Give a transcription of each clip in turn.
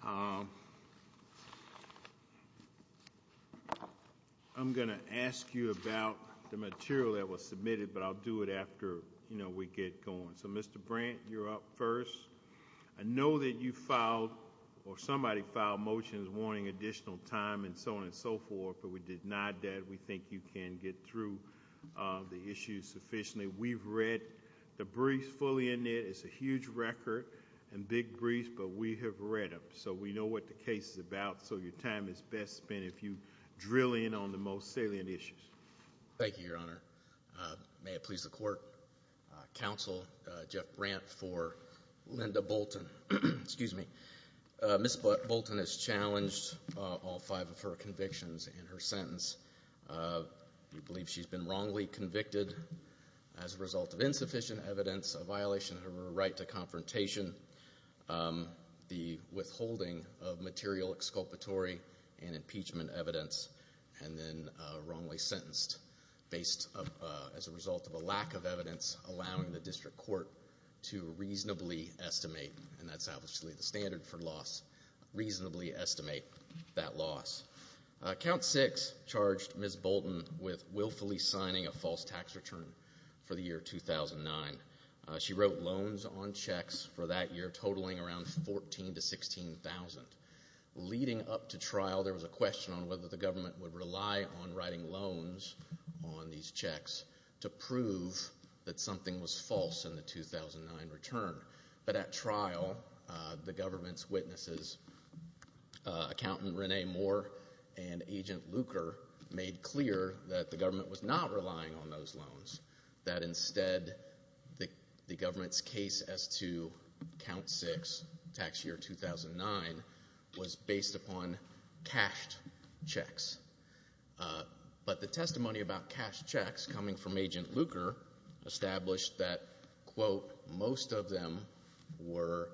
I'm going to ask you about the material that was submitted, but I'll do it after, you know, we get going. So, Mr. Brandt, you're up first. I know that you filed or somebody filed motions wanting additional time and so on and so forth, but we did not that we think you can get through the issues sufficiently. We've read the briefs fully in it. It's a huge record and big briefs, but we have read them, so we know what the case is about, so your time is best spent if you drill in on the most salient issues. Thank you, Your Honor. May it please the Court. Counsel Jeff Brandt for Linda Bolton. Excuse me. Ms. Bolton has challenged all five of her convictions in her sentence. We believe she's been wrongly convicted as a result of insufficient evidence, a violation of her right to confrontation, the withholding of material exculpatory and impeachment evidence, and then wrongly sentenced as a result of a lack of evidence allowing the district court to reasonably estimate, and that's obviously the standard for loss, reasonably estimate that loss. Count six charged Ms. Bolton with willfully signing a false tax return for the 2009. She wrote loans on checks for that year totaling around 14 to 16,000. Leading up to trial, there was a question on whether the government would rely on writing loans on these checks to prove that something was false in the 2009 return, but at trial, the government's witnesses, Accountant Renee Moore and Agent Luker, made clear that the government was not relying on those checks. Instead, the government's case as to count six, tax year 2009, was based upon cashed checks. But the testimony about cashed checks coming from Agent Luker established that, quote, most of them were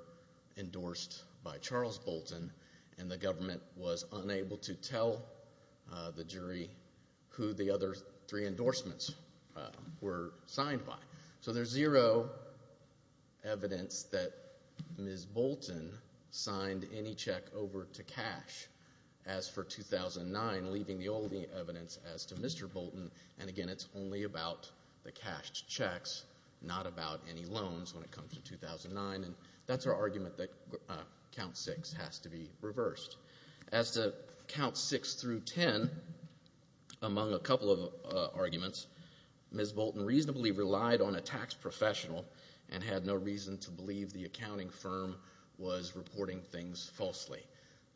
endorsed by Charles Bolton, and the government was unable to tell the jury who the other three were endorsed by. So there's zero evidence that Ms. Bolton signed any check over to cash as for 2009, leaving the only evidence as to Mr. Bolton, and again, it's only about the cashed checks, not about any loans when it comes to 2009, and that's our argument that count six has to be reversed. As to count six through ten, among a couple of arguments, Ms. Bolton reasonably relied on a tax professional and had no reason to believe the accounting firm was reporting things falsely.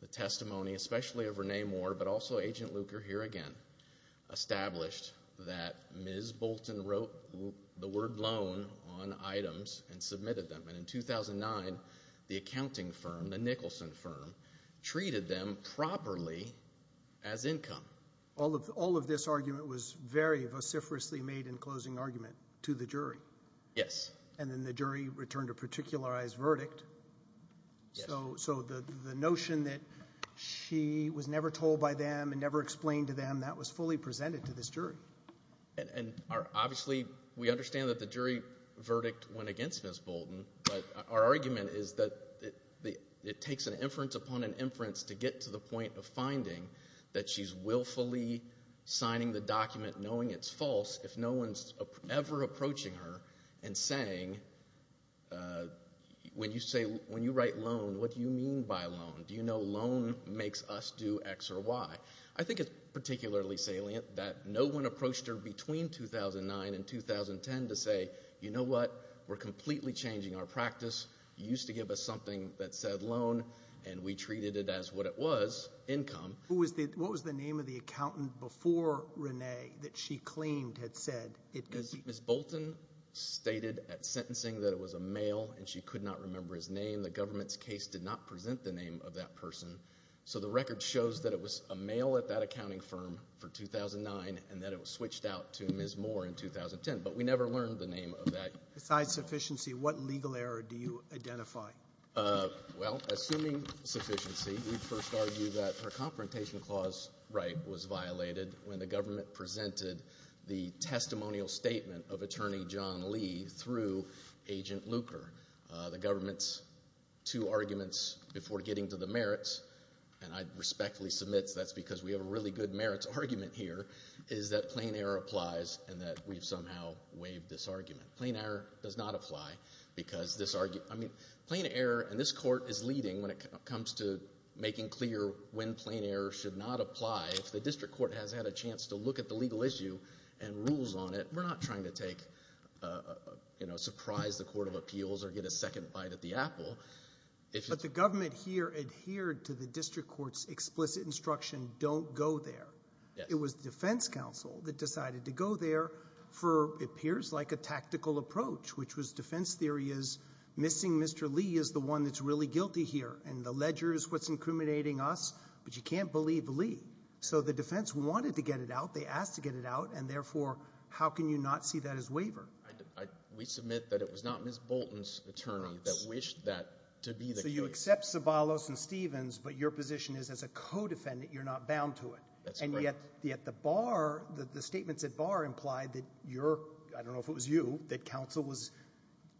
The testimony, especially of Renee Moore, but also Agent Luker here again, established that Ms. Bolton wrote the word loan on items and submitted them, and in 2009, the accounting firm, the Nicholson firm, treated them properly as income. All of this argument was very vociferously made in closing argument to the jury. Yes. And then the jury returned a particularized verdict. So the notion that she was never told by them and never explained to them, that was fully presented to this jury. And obviously, we understand that the jury verdict went against Ms. Bolton, but our argument is that it takes an inference upon an inference to get to the point of finding that she's willfully signing the document knowing it's false if no one's ever approaching her and saying, when you write loan, what do you mean by loan? Do you know loan makes us do X or Y? I think it's particularly salient that no one approached her between 2009 and 2010 to say, you know what, we're completely changing our practice. You used to give us something that said loan, and we treated it as what it was, income. What was the name of the accountant before Renee that she claimed had said? Ms. Bolton stated at sentencing that it was a male, and she could not remember his name. The government's case did not present the name of that person. So the record shows that it was a male at that accounting firm for 2009, and that switched out to Ms. Moore in 2010, but we never learned the name of that. Besides sufficiency, what legal error do you identify? Well, assuming sufficiency, we'd first argue that her confrontation clause right was violated when the government presented the testimonial statement of attorney John Lee through Agent Luker. The government's two arguments before getting to the merits, and I respectfully submit that's because we have a really good merits argument here, is that plain error applies and that we've somehow waived this argument. Plain error does not apply because this argument, I mean, plain error, and this court is leading when it comes to making clear when plain error should not apply. If the district court has had a chance to look at the legal issue and rules on it, we're not trying to take, you know, surprise the court of appeals or get a second bite at the apple. But the government here adhered to the district court's explicit instruction, don't go there. It was the defense counsel that decided to go there for what appears like a tactical approach, which was defense theory is missing Mr. Lee is the one that's really guilty here, and the ledger is what's incriminating us, but you can't believe Lee. So the defense wanted to get it out, they asked to get it out, and therefore how can you not see that as waiver? We submit that it was not Ms. Bolton's attorney that wished that to be the case. So you accept Sobalos and Stevens, but your position is as a co-defendant you're not bound to it, and yet the statements at bar implied that your, I don't know if it was you, that counsel was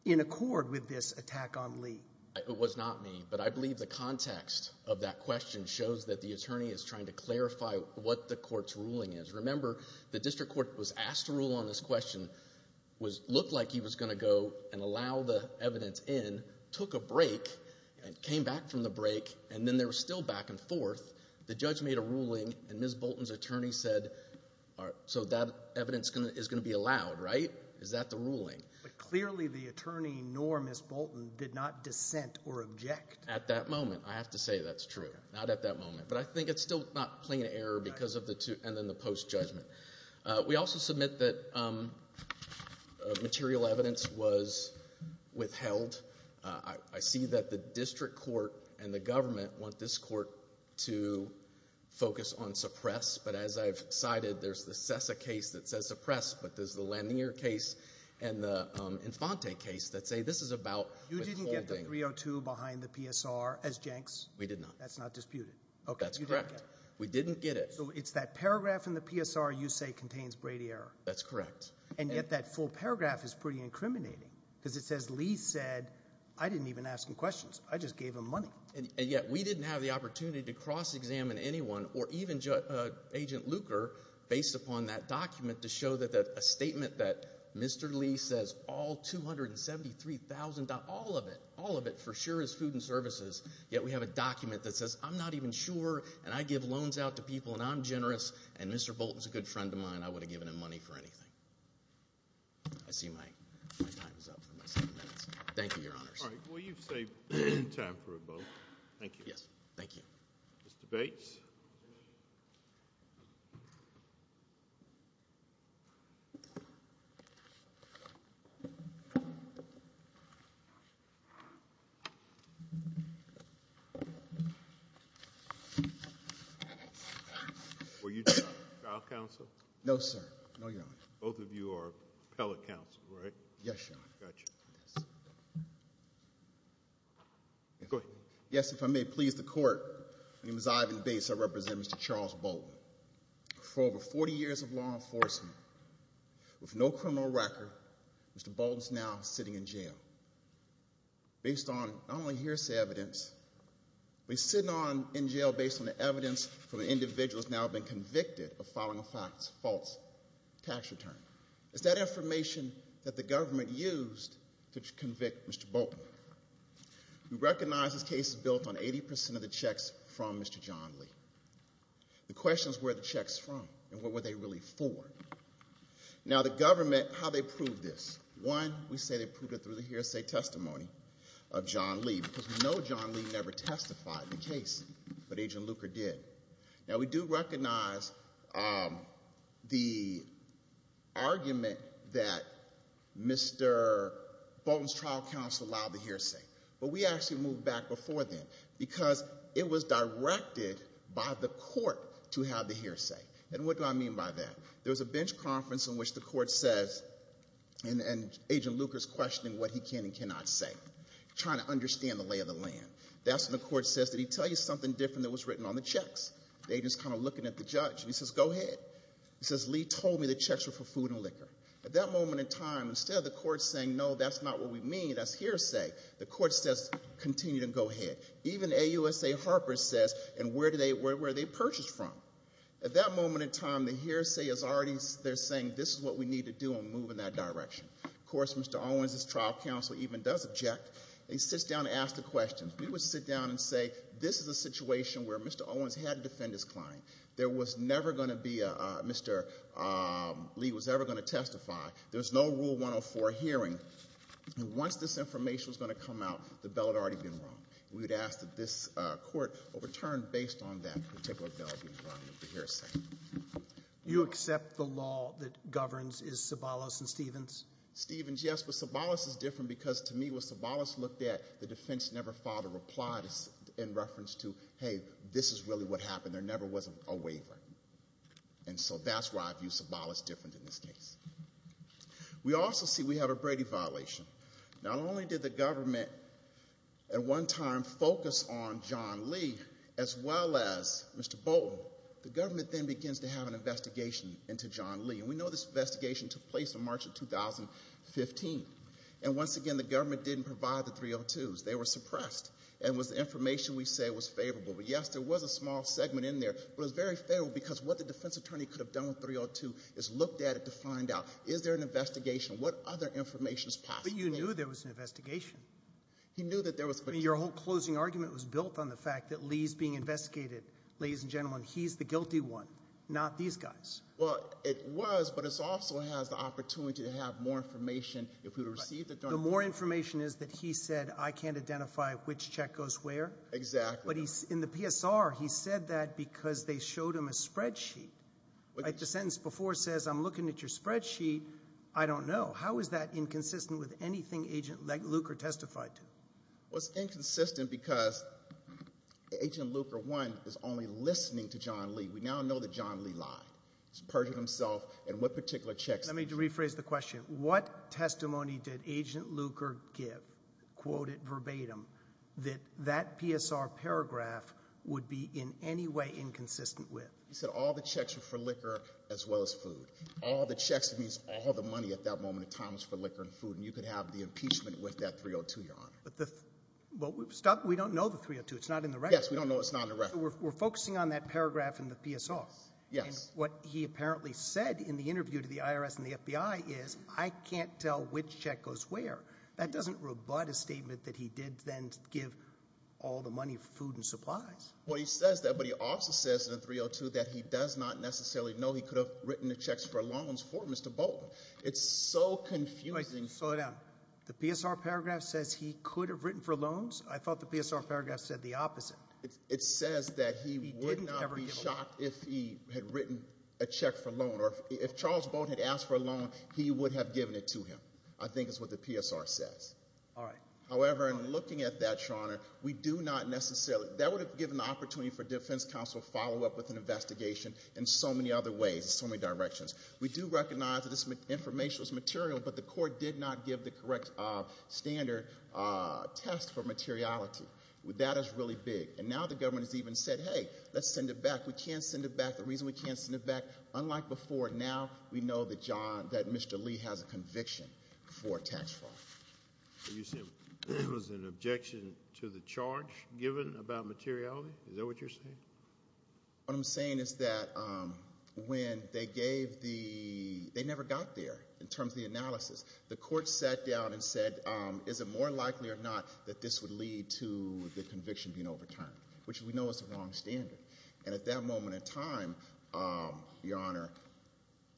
in accord with this attack on Lee. It was not me, but I believe the context of that question shows that the attorney is trying to clarify what the court's ruling is. Remember, the district court was asked to rule on this question looked like he was going to go and allow the evidence in, took a break, and came back from the break, and then they were still back and forth. The judge made a ruling, and Ms. Bolton's attorney said, so that evidence is going to be allowed, right? Is that the ruling? But clearly the attorney nor Ms. Bolton did not dissent or object. At that moment, I have to say that's true. Not at that moment, but I think it's still not plain error because of the two, and then the post-judgment. We also submit that material evidence was withheld. I see that the district court and the government want this court to focus on suppressed, but as I've cited, there's the Cessa case that says suppressed, but there's the Lanier case and the Infante case that say this is about withholding. You didn't get the 302 behind the PSR as Jenks? We did not. That's not disputed. That's correct. We didn't get it. So it's that paragraph in the PSR you say contains Brady error. That's correct. And yet that full paragraph is pretty incriminating because it says Lee said, I didn't even ask him questions. I just gave him money. And yet we didn't have the opportunity to cross-examine anyone or even Agent Luker based upon that document to show that a statement that Mr. Lee says all $273,000, all of it, all of it for sure is food and services, yet we have a document that says I'm not even sure, and I give loans out to people, and I'm generous, and Mr. Bolton's a good friend of mine. I wouldn't have given him money for anything. I see my time is up for my seven minutes. Thank you, Your Honors. All right. Well, you've saved time for a vote. Thank you. Yes. Thank you. Mr. Bates. Were you trial counsel? No, sir. No, Your Honor. Both of you are appellate counsel, right? Yes, Your Honor. Got you. Go ahead. Yes, if I may please the court. My name is Ivan Bates. I represent Mr. Charles Bolton. For over 40 years of law enforcement with no criminal record, Mr. Bolton's now sitting in jail based on not only hearsay evidence, but he's sitting in jail based on the evidence from an individual who's now been convicted of filing a false tax return. It's that information that the government used to convict Mr. Bolton. We recognize this case is built on 80 percent of the checks from Mr. John Lee. The question is, where are the checks from, and what were they really for? Now, the government, how they proved this. One, we say they proved it through the hearsay testimony of John Lee, because we know John Lee never testified in the case, but Agent Luker did. Now, we do recognize the argument that Mr. Bolton's trial counsel allowed the hearsay, but we actually moved back before then, because it was directed by the court to have the hearsay. And what do I mean by that? There was a bench conference in which the court says, and Agent Luker's questioning what he can and cannot say, trying to understand the lay of the The agent's kind of looking at the judge, and he says, go ahead. He says, Lee told me the checks were for food and liquor. At that moment in time, instead of the court saying, no, that's not what we mean, that's hearsay. The court says, continue to go ahead. Even AUSA Harper says, and where are they purchased from? At that moment in time, the hearsay is already, they're saying this is what we need to do and move in that direction. Of course, Mr. Owens' trial counsel even does object. They sit down and ask the questions. We would sit down and say, this is a situation where Mr. Owens had to defend his client. There was never going to be a, Mr. Lee was ever going to testify. There was no Rule 104 hearing. Once this information was going to come out, the bell had already been rung. We would ask that this court overturn based on that particular bell being rung with the hearsay. You accept the law that governs is Sobolos and Stevens? Stevens, yes, but Sobolos is different, because to me, what Sobolos looked at, the defense never filed a reply in reference to, hey, this is really what happened. There never was a waiver, and so that's why I view Sobolos different in this case. We also see we have a Brady violation. Not only did the government at one time focus on John Lee as well as Mr. Bolton, the government then begins to have an investigation into John Lee, and we know this investigation took place in March of 2015, and once again, the government didn't provide the 302s. They were suppressed, and it was the information we say was favorable. But yes, there was a small segment in there, but it was very favorable because what the defense attorney could have done with 302 is looked at it to find out, is there an investigation? What other information is possible? But you knew there was an investigation. He knew that there was a question. Your whole closing argument was built on the fact that Lee's being investigated, ladies and gentlemen. He's the guilty one, not these guys. Well, it was, but it also has the opportunity to have more information if we received it during the- The more information is that he said, I can't identify which check goes where. Exactly. But in the PSR, he said that because they showed him a spreadsheet. The sentence before says, I'm looking at your spreadsheet. I don't know. How is that inconsistent with anything Agent Luker testified to? Well, it's inconsistent because Agent Luker, one, is only listening to John Lee. We now know that John Lee lied. He's perjured himself and what particular checks- Let me rephrase the question. What testimony did Agent Luker give, quote it verbatim, that that PSR paragraph would be in any way inconsistent with? He said all the checks were for liquor as well as food. All the checks means all the money at that moment of time was for liquor and food, and you could have the impeachment with that 302, Your Honor. But the- Well, stop. We don't know the 302. It's not in the record. Yes, we don't know. It's not in the record. We're focusing on that paragraph in the PSR. Yes. What he apparently said in the interview to the IRS and the FBI is, I can't tell which check goes where. That doesn't rebut a statement that he did then give all the money for food and supplies. Well, he says that, but he also says in the 302 that he does not necessarily know he could have written the checks for loans for Mr. Bolton. It's so confusing. Slow down. The PSR paragraph says he could have written for loans. I thought the PSR paragraph said the opposite. It says that he would not be shocked if he had written a check for loan, or if Charles Bolton had asked for a loan, he would have given it to him. I think it's what the PSR says. All right. However, in looking at that, Your Honor, we do not necessarily, that would have given the opportunity for defense counsel to follow up with an investigation in so many other ways, so many directions. We do recognize that this information was material, but the court did not give the correct standard test for materiality. That is really big, and now the government has even said, hey, let's send it back. We can't send it back. The reason we can't send it back, unlike before now, we know that John, that Mr. Lee has a conviction for tax fraud. You said it was an objection to the charge given about materiality? Is that what you're saying? What I'm saying is that when they gave the, they never got there in terms of the analysis. The court sat down and said, is it more likely or not that this would lead to the conviction being overturned, which we know is the wrong standard. And at that moment in time, Your Honor,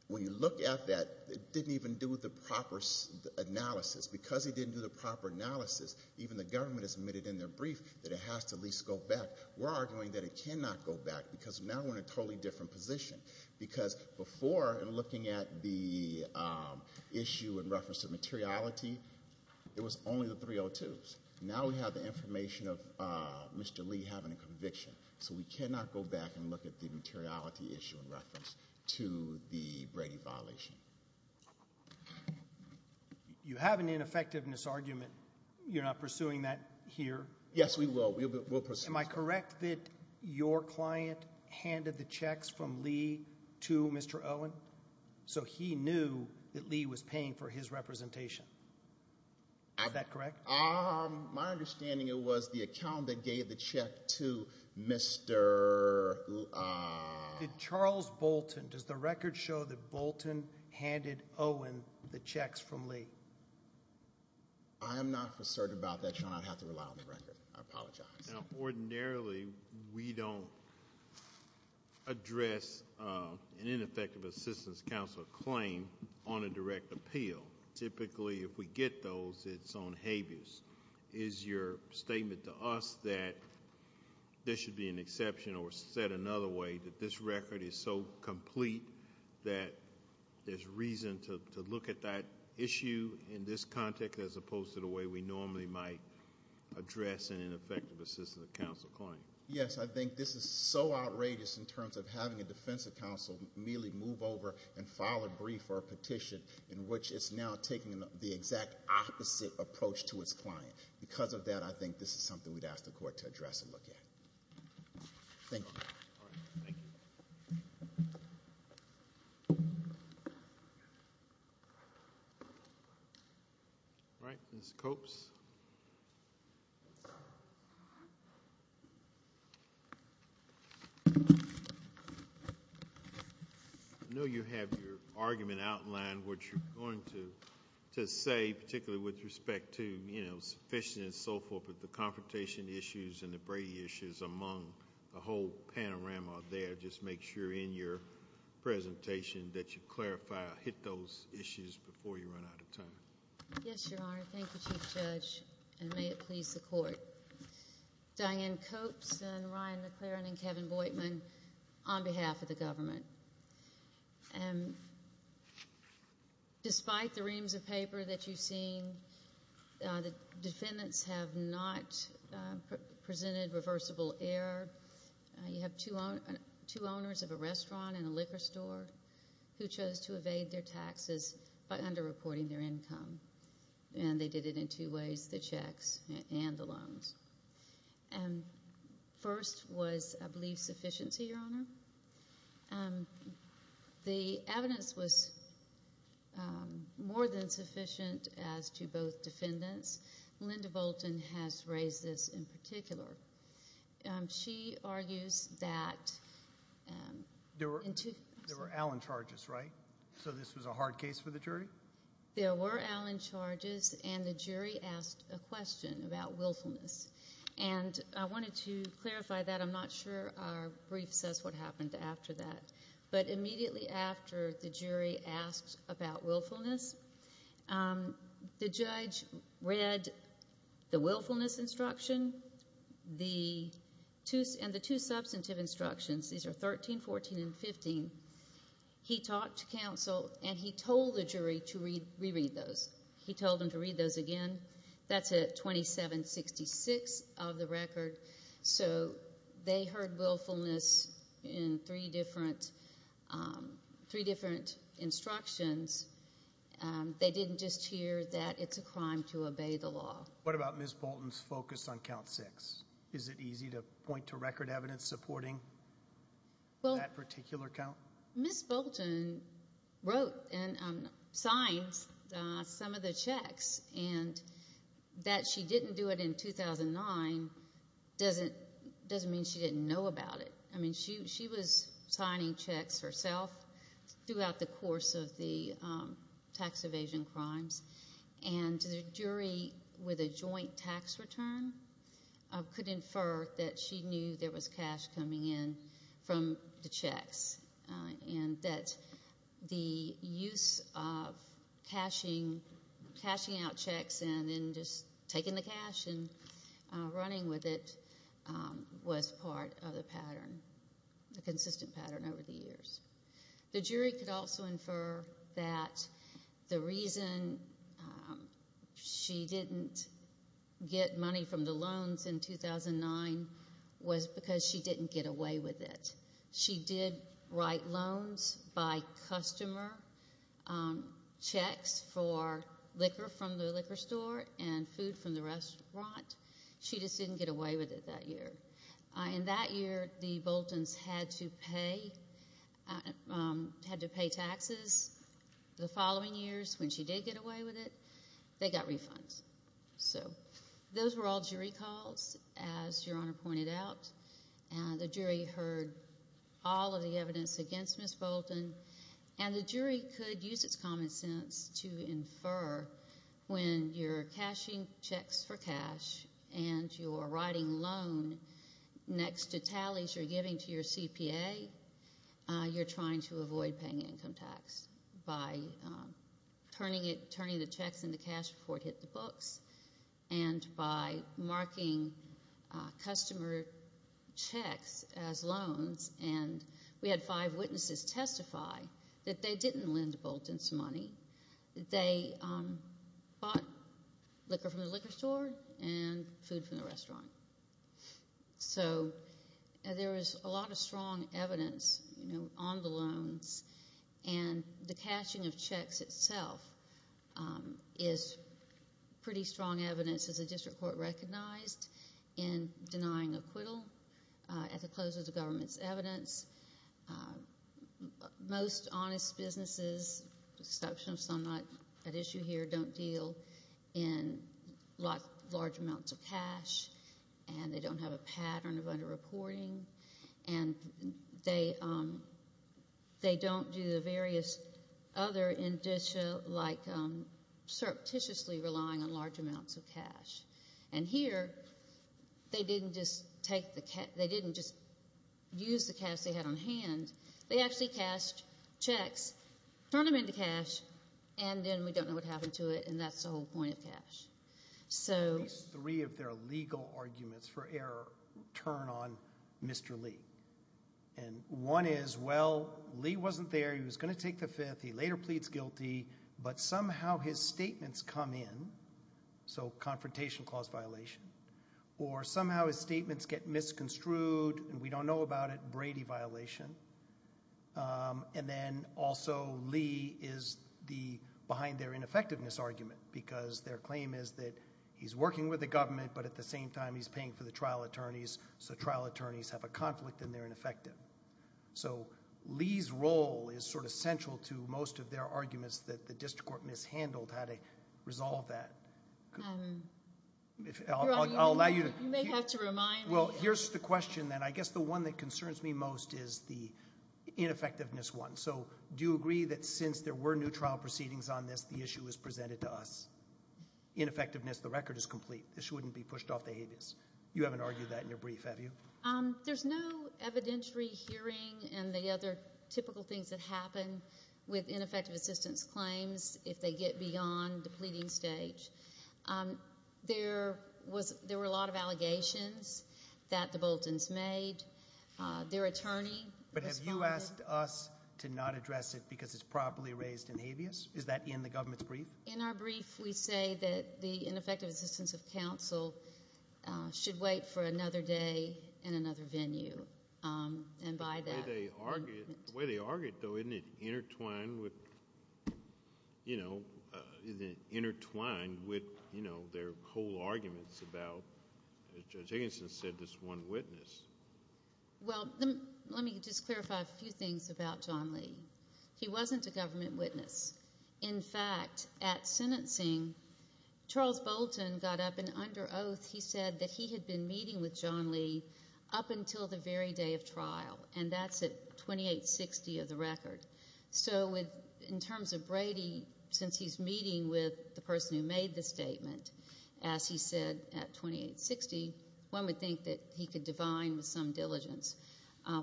when you look at that, it didn't even do the proper analysis. Because it didn't do the proper analysis, even the government has admitted in their brief that it has to at least go back. We're arguing that it cannot go back, because now we're in a totally different position. Because before, in looking at the issue in reference to materiality, it was only the 302s. Now we have the information of Mr. Lee having a conviction. So we cannot go back and look at the materiality issue in reference to the Brady violation. You have an ineffectiveness argument. You're not pursuing that here. Yes, we will. Am I correct that your client handed the checks from Lee to Mr. Owen? So he knew that Lee was paying for his representation. Is that correct? My understanding, it was the account that gave the check to Mr. Charles Bolton. Does the record show that Bolton handed Owen the checks from Lee? I am not concerned about that, Your Honor. I don't have to rely on the record. I apologize. Now, ordinarily, we don't address an ineffective assistance counselor claim on a direct appeal. Typically, if we get those, it's on habeas. Is your statement to us that this should be an exception or set another way that this record is so complete that there's reason to look at that issue in this context as opposed to the way we normally might address an ineffective assistance counselor claim? Yes, I think this is so outrageous in terms of having a defensive counselor merely move over and file a brief or a petition in which it's now taking the exact opposite approach to its client. Because of that, I think this is something we'd ask the court to address and look at. Thank you. All right. Thank you. All right. Ms. Copes? I know you have your argument outlined, which you're going to say, particularly with respect to, you know, sufficient and so forth, but the confrontation issues and the Brady issues among the whole panorama there, just make sure in your presentation that you clarify, hit those issues before you run out of time. Yes, Your Honor. Thank you, Chief Judge, and may it please the court. Diane Copes and Ryan McLaren and Kevin Boitman on behalf of the government. And despite the reams of paper that you've seen, the defendants have not presented reversible error. You have two owners of a restaurant and a liquor store who chose to evade their taxes by underreporting their income. And they did it in two ways, the checks and the loans. And first was, I believe, sufficiency, Your Honor. The evidence was more than sufficient as to both defendants. Linda Bolton has raised this in particular. She argues that... There were Allen charges, right? So this was a hard case for the jury? There were Allen charges, and the jury asked a question about willfulness. And I wanted to clarify that. I'm not sure our brief says what happened after that. But immediately after the jury asked about willfulness, the judge read the willfulness instruction and the two substantive instructions. These are 13, 14, and 15. He talked to counsel, and he told the jury to reread those. He told them to read those again. That's at 2766 of the record. So they heard willfulness in three different instructions. They didn't just hear that it's a crime to obey the law. What about Ms. Bolton's focus on count six? Is it easy to point to record evidence supporting that particular count? Ms. Bolton wrote and signed some of the checks. And that she didn't do it in 2009 doesn't mean she didn't know about it. I mean, she was signing checks herself throughout the course of the tax evasion crimes. And the jury, with a joint tax return, could infer that she knew there was cash coming in from the checks and that the use of cashing out checks and then just taking the cash and running with it was part of the pattern, the consistent pattern over the years. The jury could also infer that the reason she didn't get money from the loans in 2009 was because she didn't get away with it. She did write loans by customer checks for liquor from the liquor store and food from the restaurant. She just didn't get away with it that year. And that year, the Boltons had to pay taxes. The following years, when she did get away with it, they got refunds. So those were all jury calls, as Your Honor pointed out. And the jury heard all of the evidence against Ms. Bolton. And the jury could use its common sense to infer when you're cashing checks for cash and you're writing loan next to tallies you're giving to your CPA, you're trying to avoid paying income tax by turning the checks in the cash before it hit the books. And by marking customer checks as loans. And we had five witnesses testify that they didn't lend Boltons money. They bought liquor from the liquor store and food from the restaurant. So there was a lot of strong evidence on the loans. And the cashing of checks itself is pretty strong evidence, as the district court recognized, in denying acquittal at the close of the government's evidence. Most honest businesses, with the exception of some not at issue here, don't deal in large amounts of cash. And they don't have a pattern of underreporting. And they don't do the various other, like surreptitiously relying on large amounts of cash. And here, they didn't just use the cash they had on hand. They actually cashed checks, turned them into cash, and then we don't know what happened to it, and that's the whole point of cash. At least three of their legal arguments for error turn on Mr. Lee. And one is, well, Lee wasn't there. He was going to take the fifth. He later pleads guilty. But somehow, his statements come in. So confrontation cause violation. Or somehow, his statements get misconstrued, and we don't know about it. Brady violation. And then also, Lee is behind their ineffectiveness argument. Because their claim is that he's working with the government, but at the same time, he's paying for the trial attorneys. So trial attorneys have a conflict, and they're ineffective. So Lee's role is sort of central to most of their arguments that the district court mishandled how to resolve that. I'll allow you to- You may have to remind me. Well, here's the question then. I guess the one that concerns me most is the ineffectiveness one. So do you agree that since there were new trial proceedings on this, the issue was presented to us? Ineffectiveness, the record is complete. This shouldn't be pushed off the habeas. You haven't argued that in your brief, have you? There's no evidentiary hearing and the other typical things that happen with ineffective assistance claims if they get beyond the pleading stage. There were a lot of allegations that the Boltons made. Their attorney responded- But have you asked us to not address it because it's properly raised in habeas? Is that in the government's brief? In our brief, we say that the ineffective assistance of counsel should wait for another day in another venue. And by that- The way they argue it, though, isn't it intertwined with their whole arguments about, as Judge Higginson said, this one witness? Well, let me just clarify a few things about John Lee. He wasn't a government witness. In fact, at sentencing, Charles Bolton got up and under oath, he said that he had been meeting with John Lee up until the very day of trial, and that's at 2860 of the record. So in terms of Brady, since he's meeting with the person who made the statement, as he said at 2860, one would think that he could divine with some diligence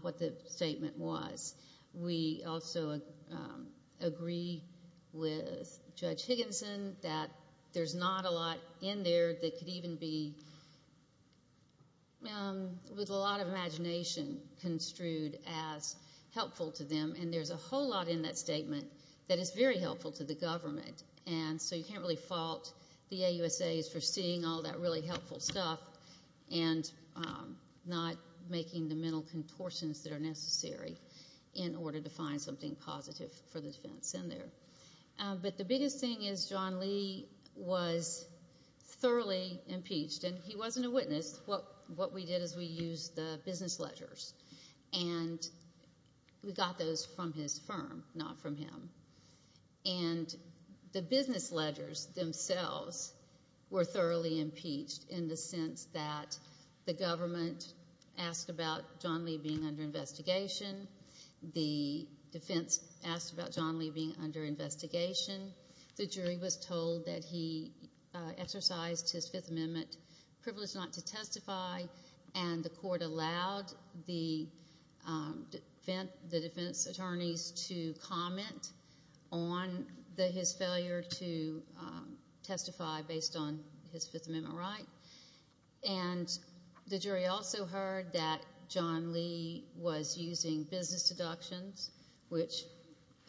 what the statement was. We also agree with Judge Higginson that there's not a lot in there that could even be with a lot of imagination construed as helpful to them. And there's a whole lot in that statement that is very helpful to the government. And so you can't really fault the AUSAs for seeing all that really helpful stuff and not making the mental contortions that are necessary. In order to find something positive for the defense in there. But the biggest thing is John Lee was thoroughly impeached and he wasn't a witness. What we did is we used the business ledgers and we got those from his firm, not from him. And the business ledgers themselves were thoroughly impeached in the sense that the government asked about John Lee being under investigation, the defense asked about John Lee being under investigation, the jury was told that he exercised his Fifth Amendment privilege not to testify, and the court allowed the defense attorneys to comment on his failure to testify based on his Fifth Amendment right. And the jury also heard that John Lee was using business deductions, which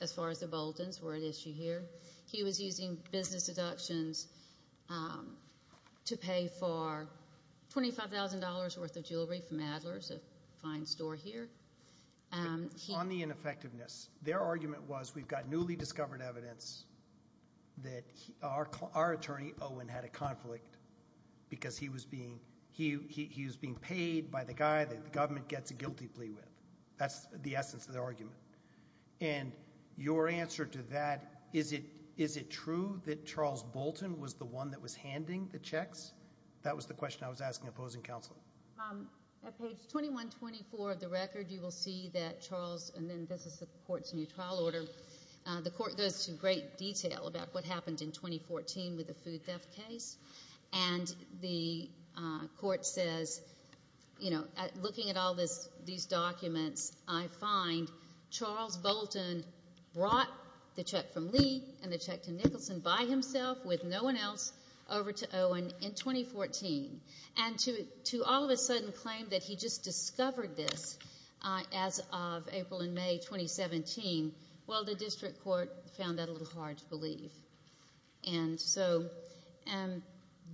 as far as the Boltons were at issue here, he was using business deductions to pay for $25,000 worth of jewelry from Adler's, a fine store here. On the ineffectiveness, their argument was we've got newly discovered evidence that our attorney, Owen, had a conflict because he was being paid by the guy that the government gets a guilty plea with. That's the essence of the argument. And your answer to that, is it true that Charles Bolton was the one that was handing the checks? That was the question I was asking opposing counsel. At page 2124 of the record, you will see that Charles, and then this is the court's new trial order, the court goes to great detail about what happened in 2014 with the food theft case. And the court says, you know, looking at all these documents, I find Charles Bolton brought the check from Lee and the check to Nicholson by himself with no one else over to Owen in 2014. And to all of a sudden claim that he just discovered this as of April and May 2017, the district court found that a little hard to believe. And so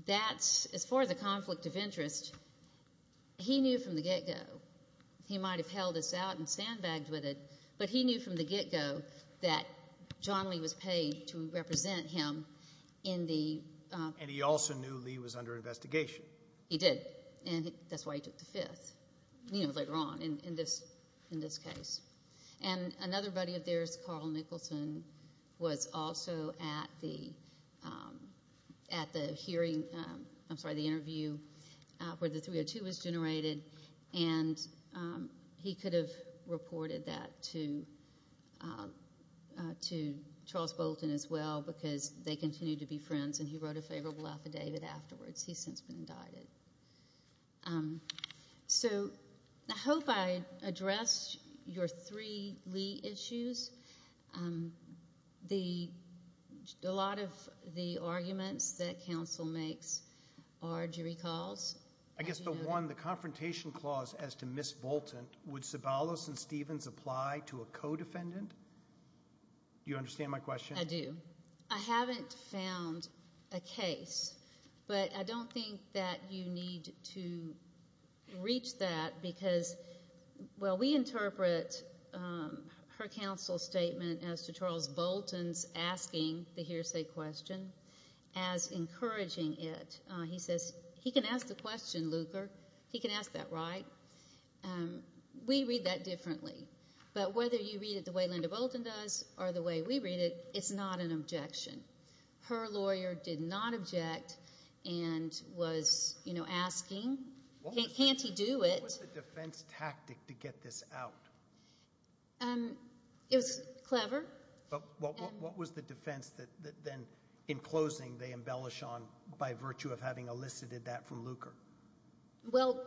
that's, as far as the conflict of interest, he knew from the get-go, he might have held this out and sandbagged with it, but he knew from the get-go that John Lee was paid to represent him in the... And he also knew Lee was under investigation. He did. And that's why he took the fifth, you know, later on in this case. And another buddy of theirs, Carl Nicholson, was also at the hearing, I'm sorry, the interview where the 302 was generated, and he could have reported that to Charles Bolton as well, because they continued to be friends, and he wrote a favorable affidavit afterwards. He's since been indicted. So, I hope I addressed your three Lee issues. A lot of the arguments that counsel makes are jury calls. I guess the one, the confrontation clause as to Ms. Bolton, would Sabalos and Stevens apply to a co-defendant? Do you understand my question? I do. I haven't found a case, but I don't think that you need to reach that, because, well, we interpret her counsel statement as to Charles Bolton's asking the hearsay question as encouraging it. He says, he can ask the question, Luker. He can ask that, right? We read that differently. But whether you read it the way Linda Bolton does, or the way we read it, it's not an objection. Her lawyer did not object and was, you know, asking, can't he do it? What was the defense tactic to get this out? It was clever. What was the defense that then, in closing, they embellish on by virtue of having elicited that from Luker? Well,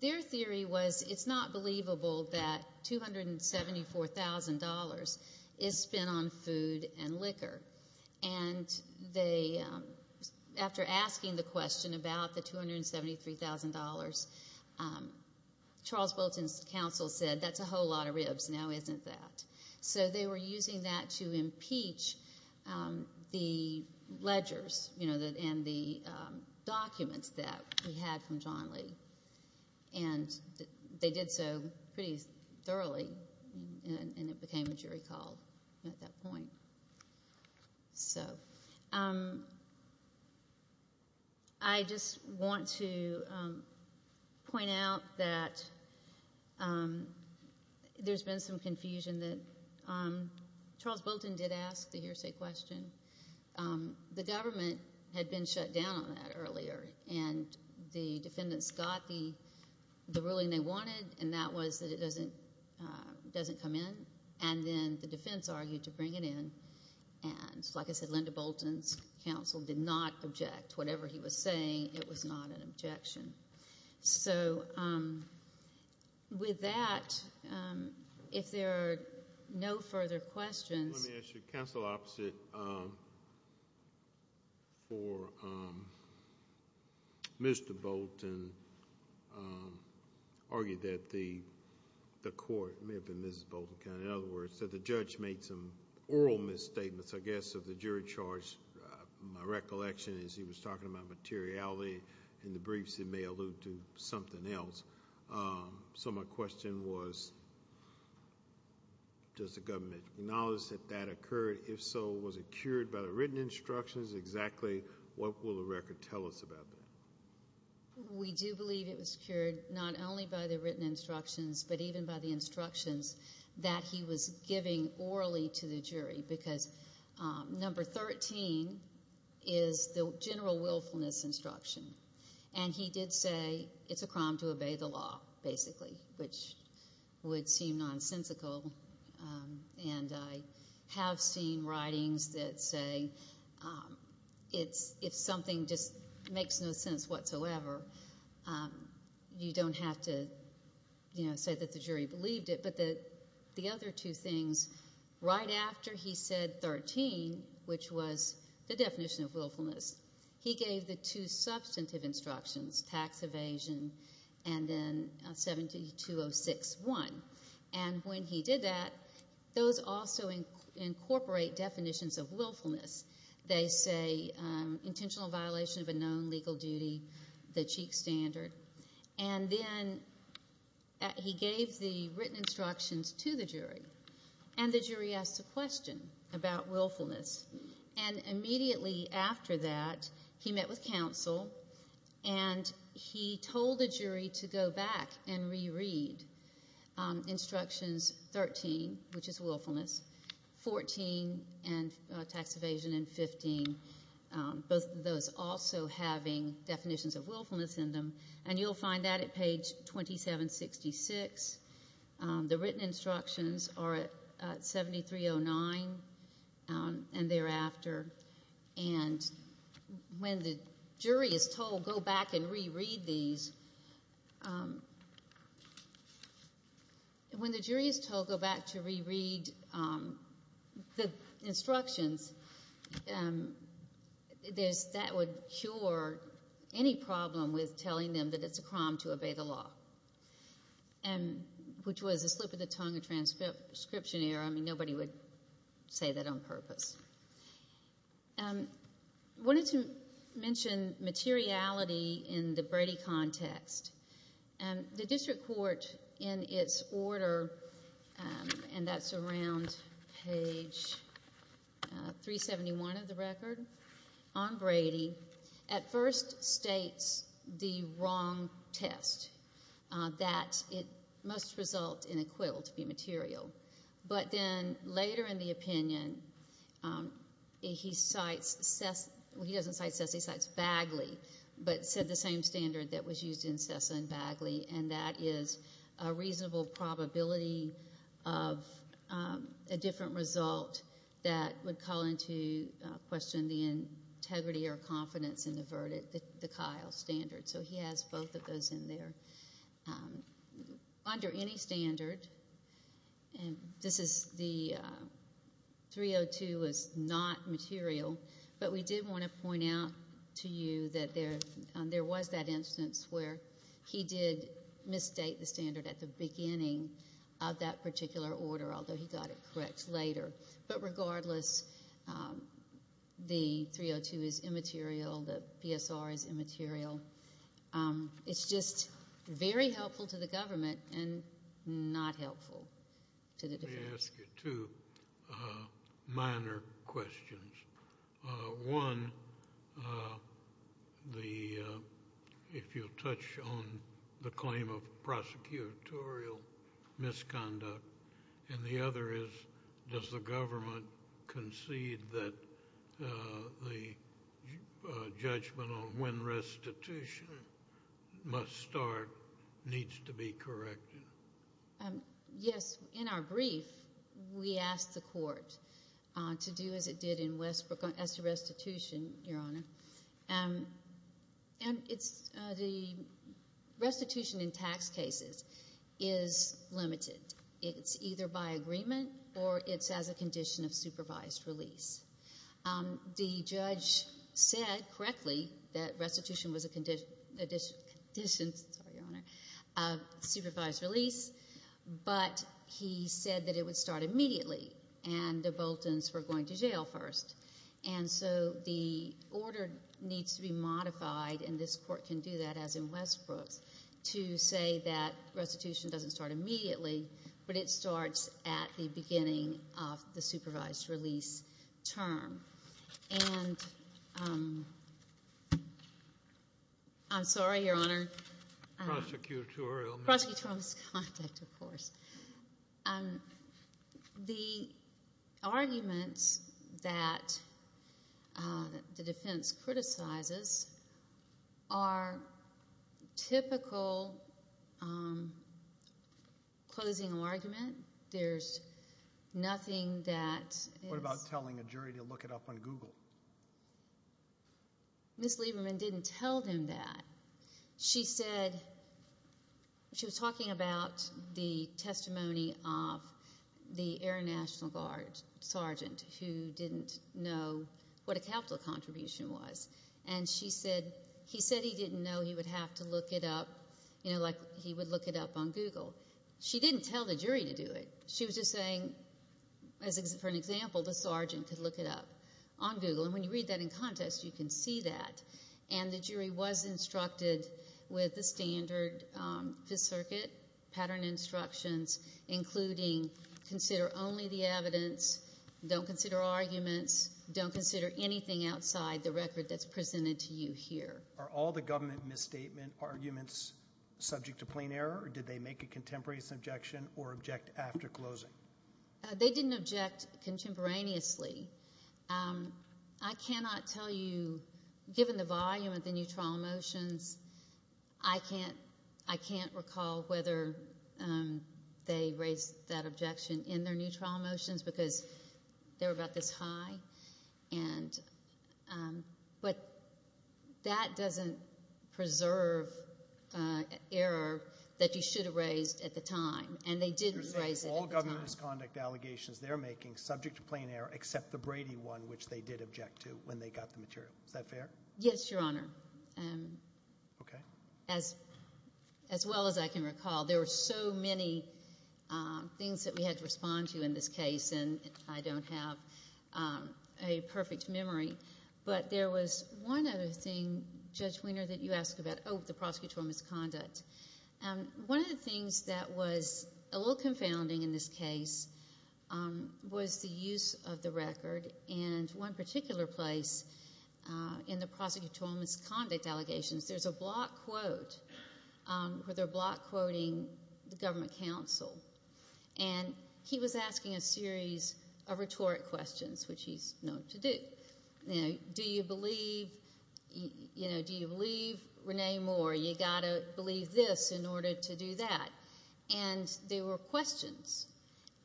their theory was, it's not believable that $274,000 is spent on food and liquor. And they, after asking the question about the $273,000, Charles Bolton's counsel said, that's a whole lot of ribs. Now isn't that? So they were using that to impeach the ledgers and the documents that we had from John Lee. And they did so pretty thoroughly. And it became a jury call at that point. So I just want to point out that there's been some confusion that Charles Bolton did ask the hearsay question. The government had been shut down on that earlier. And the defendants got the ruling they wanted. And that was that it doesn't come in. And then the defense argued to bring it in. And like I said, Linda Bolton's counsel did not object. Whatever he was saying, it was not an objection. So with that, if there are no further questions. Let me ask you, counsel opposite for Mr. Bolton argued that the court, it may have been Mrs. Bolton, in other words, that the judge made some oral misstatements, I guess, of the jury charge. My recollection is he was talking about materiality. In the briefs, it may allude to something else. So my question was, does the government acknowledge that that occurred? If so, was it cured by the written instructions? Exactly what will the record tell us about that? We do believe it was cured not only by the written instructions, but even by the instructions. That he was giving orally to the jury. Because number 13 is the general willfulness instruction. And he did say it's a crime to obey the law, basically. Which would seem nonsensical. And I have seen writings that say if something just makes no sense whatsoever, you don't have to say that the jury believed it. But the other two things, right after he said 13, which was the definition of willfulness, he gave the two substantive instructions, tax evasion, and then 7206-1. And when he did that, those also incorporate definitions of willfulness. They say intentional violation of a known legal duty, the cheek standard. And then he gave the written instructions to the jury. And the jury asked a question about willfulness. And immediately after that, he met with counsel. And he told the jury to go back and reread instructions 13, which is willfulness, 14, tax evasion, and 15, both of those also having definitions of willfulness in them. You'll find that at page 2766. The written instructions are at 7309 and thereafter. And when the jury is told go back and reread these, when the jury is told go back to reread the instructions, that would cure any problem with telling them that it's a crime to obey the law, which was a slip of the tongue, a transcription error. I mean, nobody would say that on purpose. I wanted to mention materiality in the Brady context. And the district court, in its order, and that's around page 371 of the record, on Brady, at first states the wrong test, that it must result in a quill to be material. But then later in the opinion, he cites, he doesn't cite SES, he cites Bagley, but said the same standard that was used in SES and Bagley, and that is a reasonable probability of a different result that would call into question the integrity or confidence in the verdict, the Kyle standard. So he has both of those in there. Under any standard, and this is the 302 was not material, but we did want to point out to you that there was that instance where he did misstate the standard at the beginning of that particular order, although he got it correct later. But regardless, the 302 is immaterial, the PSR is immaterial. It's just very helpful to the government and not helpful to the defense. I'd like to ask you two minor questions. One, if you'll touch on the claim of prosecutorial misconduct, and the other is, does the government concede that the judgment on when restitution must start needs to be corrected? Yes. In our brief, we asked the court to do as it did in Westbrook as to restitution, Your Honor, and the restitution in tax cases is limited. It's either by agreement or it's as a condition of supervised release. The judge said correctly that restitution was a condition of supervised release, but he said that it would start immediately and the Boltons were going to jail first. And so the order needs to be modified, and this court can do that as in Westbrook, to say that restitution doesn't start immediately, but it starts at the beginning of the supervised release term. And I'm sorry, Your Honor, prosecutorial misconduct, of course. The arguments that the defense criticizes are typical closing argument. There's nothing that is— What about telling a jury to look it up on Google? Ms. Lieberman didn't tell them that. She said—she was talking about the testimony of the Air National Guard sergeant who didn't know what a capital contribution was, and she said he said he didn't know he would have to look it up, you know, like he would look it up on Google. She didn't tell the jury to do it. She was just saying, for an example, the sergeant could look it up on Google, and when you read that in context, you can see that. And the jury was instructed with the standard Fifth Circuit pattern instructions, including consider only the evidence, don't consider arguments, don't consider anything outside the record that's presented to you here. Are all the government misstatement arguments subject to plain error, or did they make a contemporaneous objection or object after closing? They didn't object contemporaneously. I cannot tell you, given the volume of the new trial motions, I can't—I can't recall whether they raised that objection in their new trial motions because they were about this high. And—but that doesn't preserve error that you should have raised at the time, and they didn't raise it at the time. All government misconduct allegations they're making subject to plain error except the Brady one, which they did object to when they got the material. Is that fair? Yes, Your Honor. Okay. As—as well as I can recall. There were so many things that we had to respond to in this case, and I don't have a perfect memory, but there was one other thing, Judge Wiener, that you asked about, oh, the prosecutorial misconduct. One of the things that was a little confounding in this case was the use of the record, and one particular place in the prosecutorial misconduct allegations, there's a block quote where they're block quoting the government counsel. And he was asking a series of rhetoric questions, which he's known to do. You know, do you believe—you know, do you believe Rene Moore? You got to believe this in order to do that. And they were questions.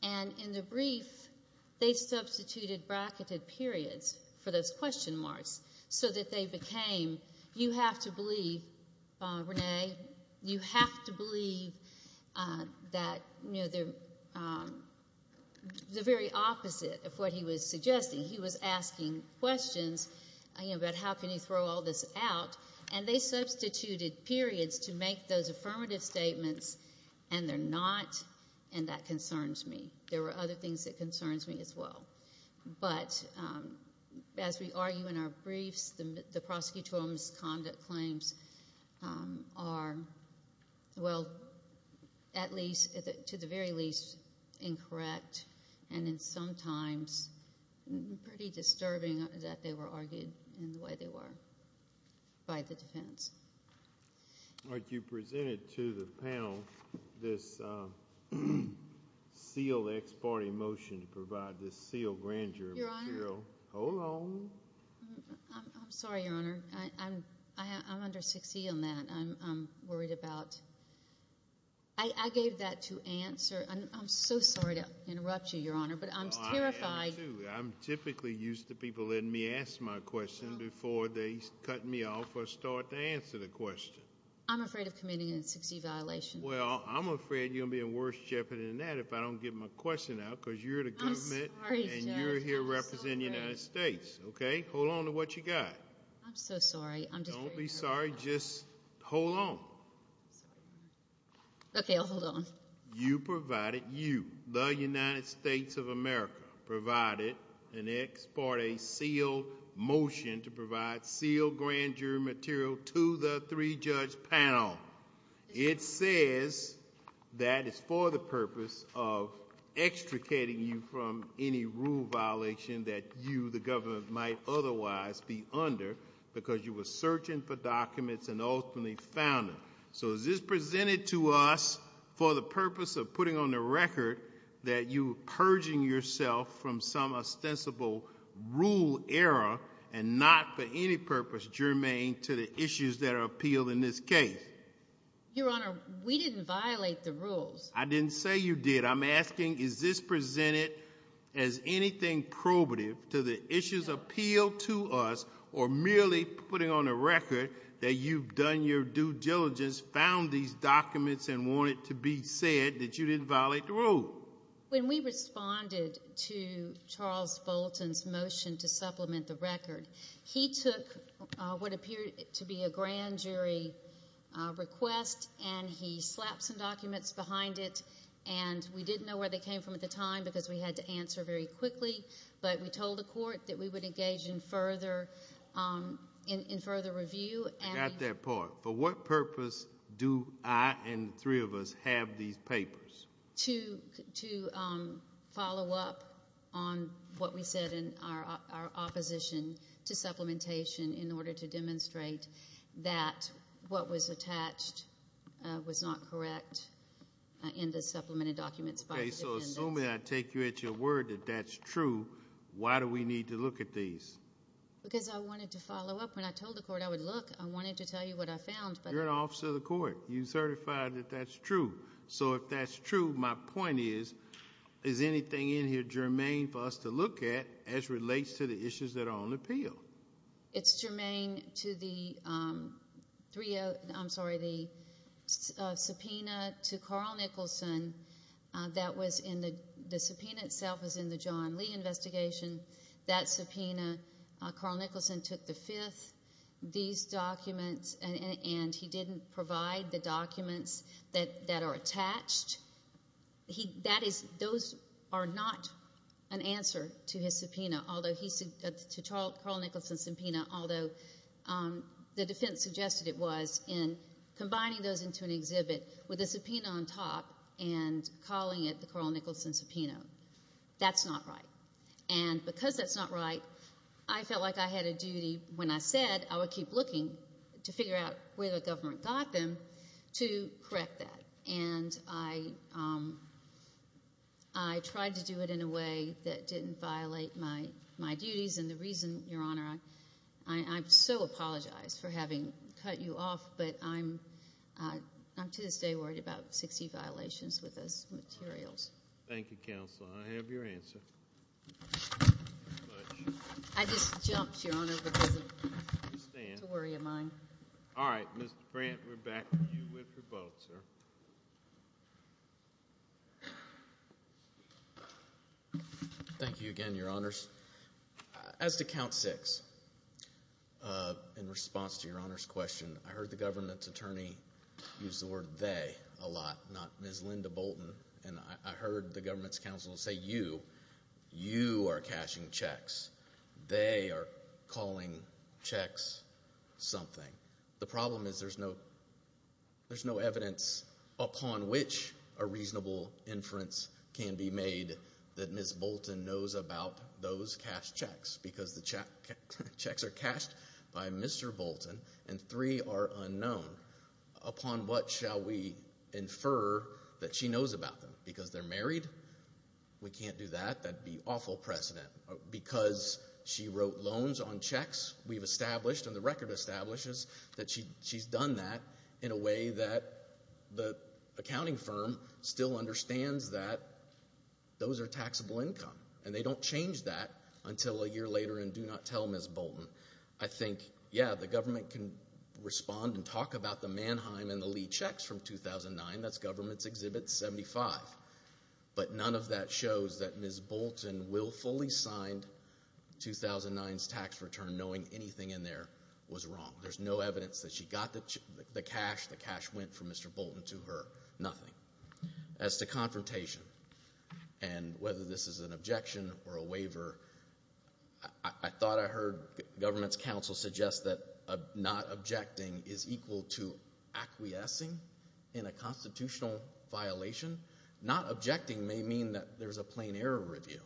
And in the brief, they substituted bracketed periods for those question marks so that they became, you have to believe, Rene, you have to believe that, you know, the very opposite of what he was suggesting. He was asking questions, you know, about how can you throw all this out, and they substituted periods to make those affirmative statements, and they're not, and that concerns me. There were other things that concerns me as well. But as we argue in our briefs, the prosecutorial misconduct claims are, well, at least, to the very least, incorrect, and then sometimes pretty disturbing that they were argued in the way they were by the defense. All right. You presented to the panel this sealed ex parte motion to provide this sealed grand jury material. Your Honor— Hold on. I'm sorry, Your Honor. I'm under 6E on that. I'm worried about—I gave that to answer. I'm so sorry to interrupt you, Your Honor, but I'm terrified— I am, too. I'm typically used to people letting me ask my question before they cut me off or start to answer the question. I'm afraid of committing a 6E violation. Well, I'm afraid you're going to be in worse jeopardy than that if I don't get my question out, because you're the government, and you're here representing the United States, okay? Hold on to what you got. I'm so sorry. Don't be sorry. Just hold on. You provided, you, the United States of America, provided an ex parte sealed motion to provide sealed grand jury material to the three-judge panel. It says that it's for the purpose of extricating you from any rule violation that you, the government, might otherwise be under because you were searching for documents and ultimately found them. So is this presented to us for the purpose of putting on the record that you were purging yourself from some ostensible rule error and not for any purpose germane to the issues that are appealed in this case? Your Honor, we didn't violate the rules. I didn't say you did. I'm asking, is this presented as anything probative to the issues appealed to us or merely putting on the record that you've done your due diligence, found these documents, and want it to be said that you didn't violate the rule? When we responded to Charles Bolton's motion to supplement the record, he took what appeared to be a grand jury request and he slapped some documents behind it. And we didn't know where they came from at the time because we had to answer very quickly. But we told the court that we would engage in further review. I got that part. For what purpose do I and the three of us have these papers? To follow up on what we said in our opposition to supplementation in order to demonstrate that what was attached was not correct in the supplemented documents by the defendants. Okay. So assuming I take you at your word that that's true, why do we need to look at these? Because I wanted to follow up. I told the court I would look. I wanted to tell you what I found. You're an officer of the court. You certified that that's true. So if that's true, my point is, is anything in here germane for us to look at as relates to the issues that are on appeal? It's germane to the subpoena to Carl Nicholson. The subpoena itself is in the John Lee investigation. That subpoena, Carl Nicholson took the fifth. These documents, and he didn't provide the documents that are attached. Those are not an answer to Carl Nicholson's subpoena, although the defense suggested it was in combining those into an exhibit with a subpoena on top and calling it the Carl Nicholson subpoena. That's not right. And because that's not right, I felt like I had a duty when I said I would keep looking to figure out where the government got them to correct that. And I tried to do it in a way that didn't violate my duties. And the reason, Your Honor, I so apologize for having cut you off, but I'm to this day worried about 60 violations with those materials. Thank you, counsel. I have your answer. Thank you very much. I just jumped, Your Honor, because of the worry of mine. All right. Mr. Brandt, we're back to you with your vote, sir. Thank you again, Your Honors. As to count six, in response to Your Honor's question, I heard the government's attorney use the word they a lot, not Ms. Linda Bolton. And I heard the government's counsel say, you, you are cashing checks. They are calling checks something. The problem is there's no evidence upon which a reasonable inference can be made that Ms. Bolton knows about those cashed checks, because the checks are cashed by Mr. Bolton and three are unknown. Upon what shall we infer that she knows about them? Because they're married? We can't do that. That'd be awful precedent. Because she wrote loans on checks we've established, and the record establishes that she's done that in a way that the accounting firm still understands that those are taxable income. And they don't change that until a year later and do not tell Ms. Bolton. I think, yeah, the government can respond and talk about the Mannheim and the Lee checks from 2009. That's government's Exhibit 75. But none of that shows that Ms. Bolton willfully signed 2009's tax return knowing anything in there was wrong. There's no evidence that she got the cash. The cash went from Mr. Bolton to her. As to confrontation, and whether this is an objection or a waiver, I thought I heard government's counsel suggest that not objecting is equal to acquiescing in a constitutional violation. Not objecting may mean that there's a plain error review.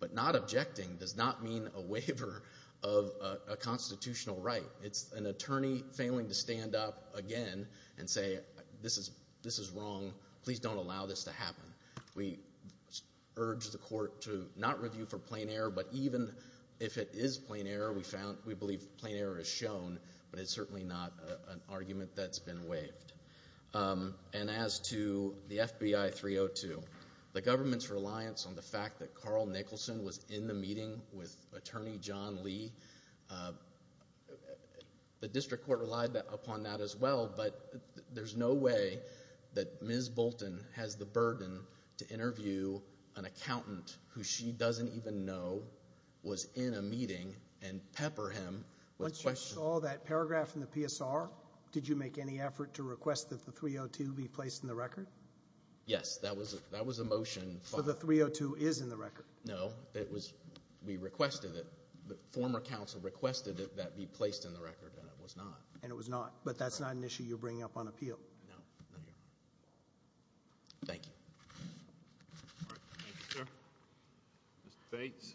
But not objecting does not mean a waiver of a constitutional right. It's an attorney failing to stand up again and say, We urge the court to not review for plain error. But even if it is plain error, we believe plain error is shown. But it's certainly not an argument that's been waived. And as to the FBI 302, the government's reliance on the fact that Carl Nicholson was in the meeting with Attorney John Lee, the district court relied upon that as well. But there's no way that Ms. Bolton has the burden to interview an accountant who she doesn't even know was in a meeting and pepper him. Once you saw that paragraph in the PSR, did you make any effort to request that the 302 be placed in the record? Yes, that was a motion. So the 302 is in the record? No, we requested it. The former counsel requested that that be placed in the record, and it was not. And it was not, but that's not an issue you're bringing up on appeal. No, no. Thank you. All right, thank you, sir. Mr. Bates.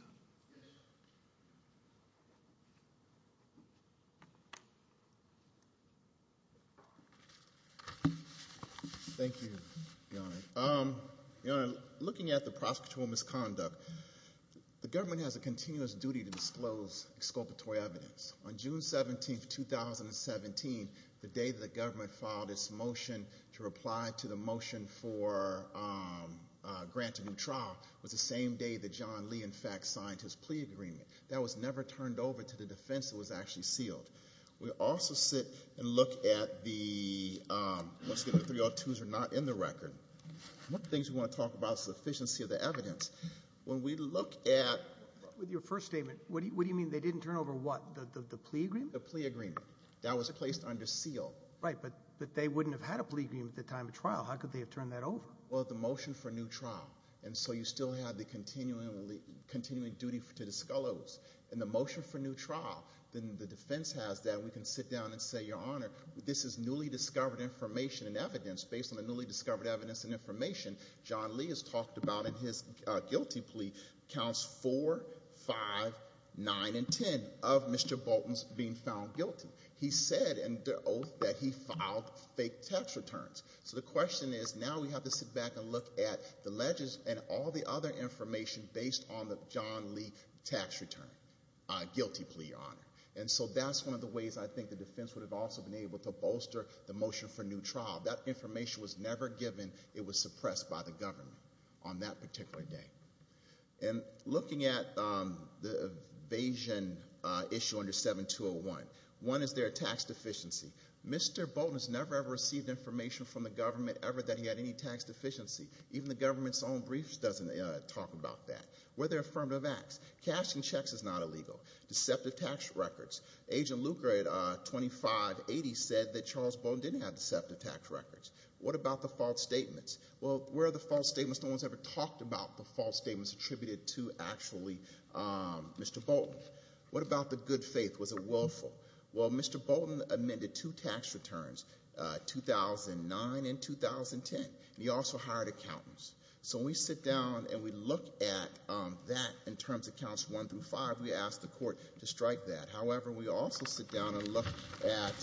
Thank you, Your Honor. Looking at the prosecutorial misconduct, the government has a continuous duty to disclose exculpatory evidence. On June 17, 2017, the day that the government filed its motion to reply to the motion for a grant to new trial, was the same day that John Lee, in fact, signed his plea agreement. That was never turned over to the defense that was actually sealed. We also sit and look at the, once again, the 302s are not in the record. One of the things we want to talk about is the efficiency of the evidence. When we look at... With your first statement, what do you mean they didn't turn over what? The plea agreement? The plea agreement. That was placed under seal. Right, but they wouldn't have had a plea agreement at the time of trial. How could they have turned that over? Well, the motion for new trial. And so you still have the continuing duty to disclose. And the motion for new trial, then the defense has that, we can sit down and say, Your Honor, this is newly discovered information and evidence based on the newly discovered evidence and information John Lee has talked about in his guilty plea, counts 4, 5, 9, and 10 of Mr. Bolton's being found guilty. He said in the oath that he filed fake tax returns. So the question is, now we have to sit back and look at the ledges and all the other information based on the John Lee tax return, guilty plea, Your Honor. And so that's one of the ways I think the defense would have also been able to bolster the motion for new trial. That information was never given. It was suppressed by the government on that particular day. And looking at the evasion issue under 7201. One is their tax deficiency. Mr. Bolton has never, ever received information from the government ever that he had any tax deficiency. Even the government's own briefs doesn't talk about that. Were there affirmative acts? Cashing checks is not illegal. Deceptive tax records. Agent Luker at 2580 said that Charles Bolton didn't have deceptive tax records. What about the false statements? Well, where are the false statements? No one's ever talked about the false statements attributed to actually Mr. Bolton. What about the good faith? Was it willful? Well, Mr. Bolton amended two tax returns, 2009 and 2010. And he also hired accountants. So when we sit down and we look at that in terms of counts one through five, we ask the court to strike that. However, we also sit down and look at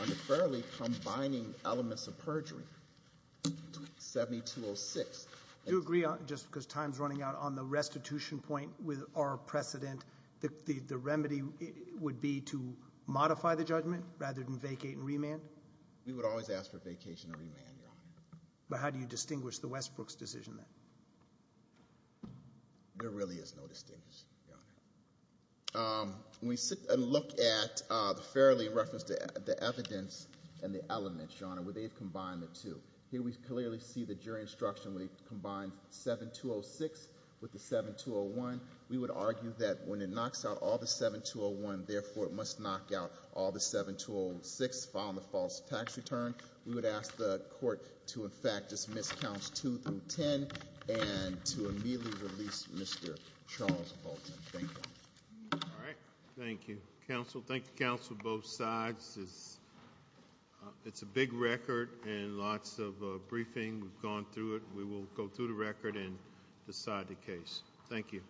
unfairly combining elements of perjury. 7206. Do you agree, just because time's running out, on the restitution point with our precedent, that the remedy would be to modify the judgment rather than vacate and remand? We would always ask for vacation and remand, Your Honor. But how do you distinguish the Westbrooks decision then? There really is no distinction, Your Honor. When we sit and look at the fairly referenced evidence and the elements, Your Honor, they've combined the two. Here we clearly see the jury instruction. We've combined 7206 with the 7201. We would argue that when it knocks out all the 7201, therefore, it must knock out all the 7206 following the false tax return. We would ask the court to, in fact, dismiss counts two through ten and to immediately release Mr. Charles Bolton. Thank you. All right. Thank you, counsel. Thank you, counsel, both sides. This is, it's a big record and lots of briefing. We've gone through it. We will go through the record and decide the case. Thank you.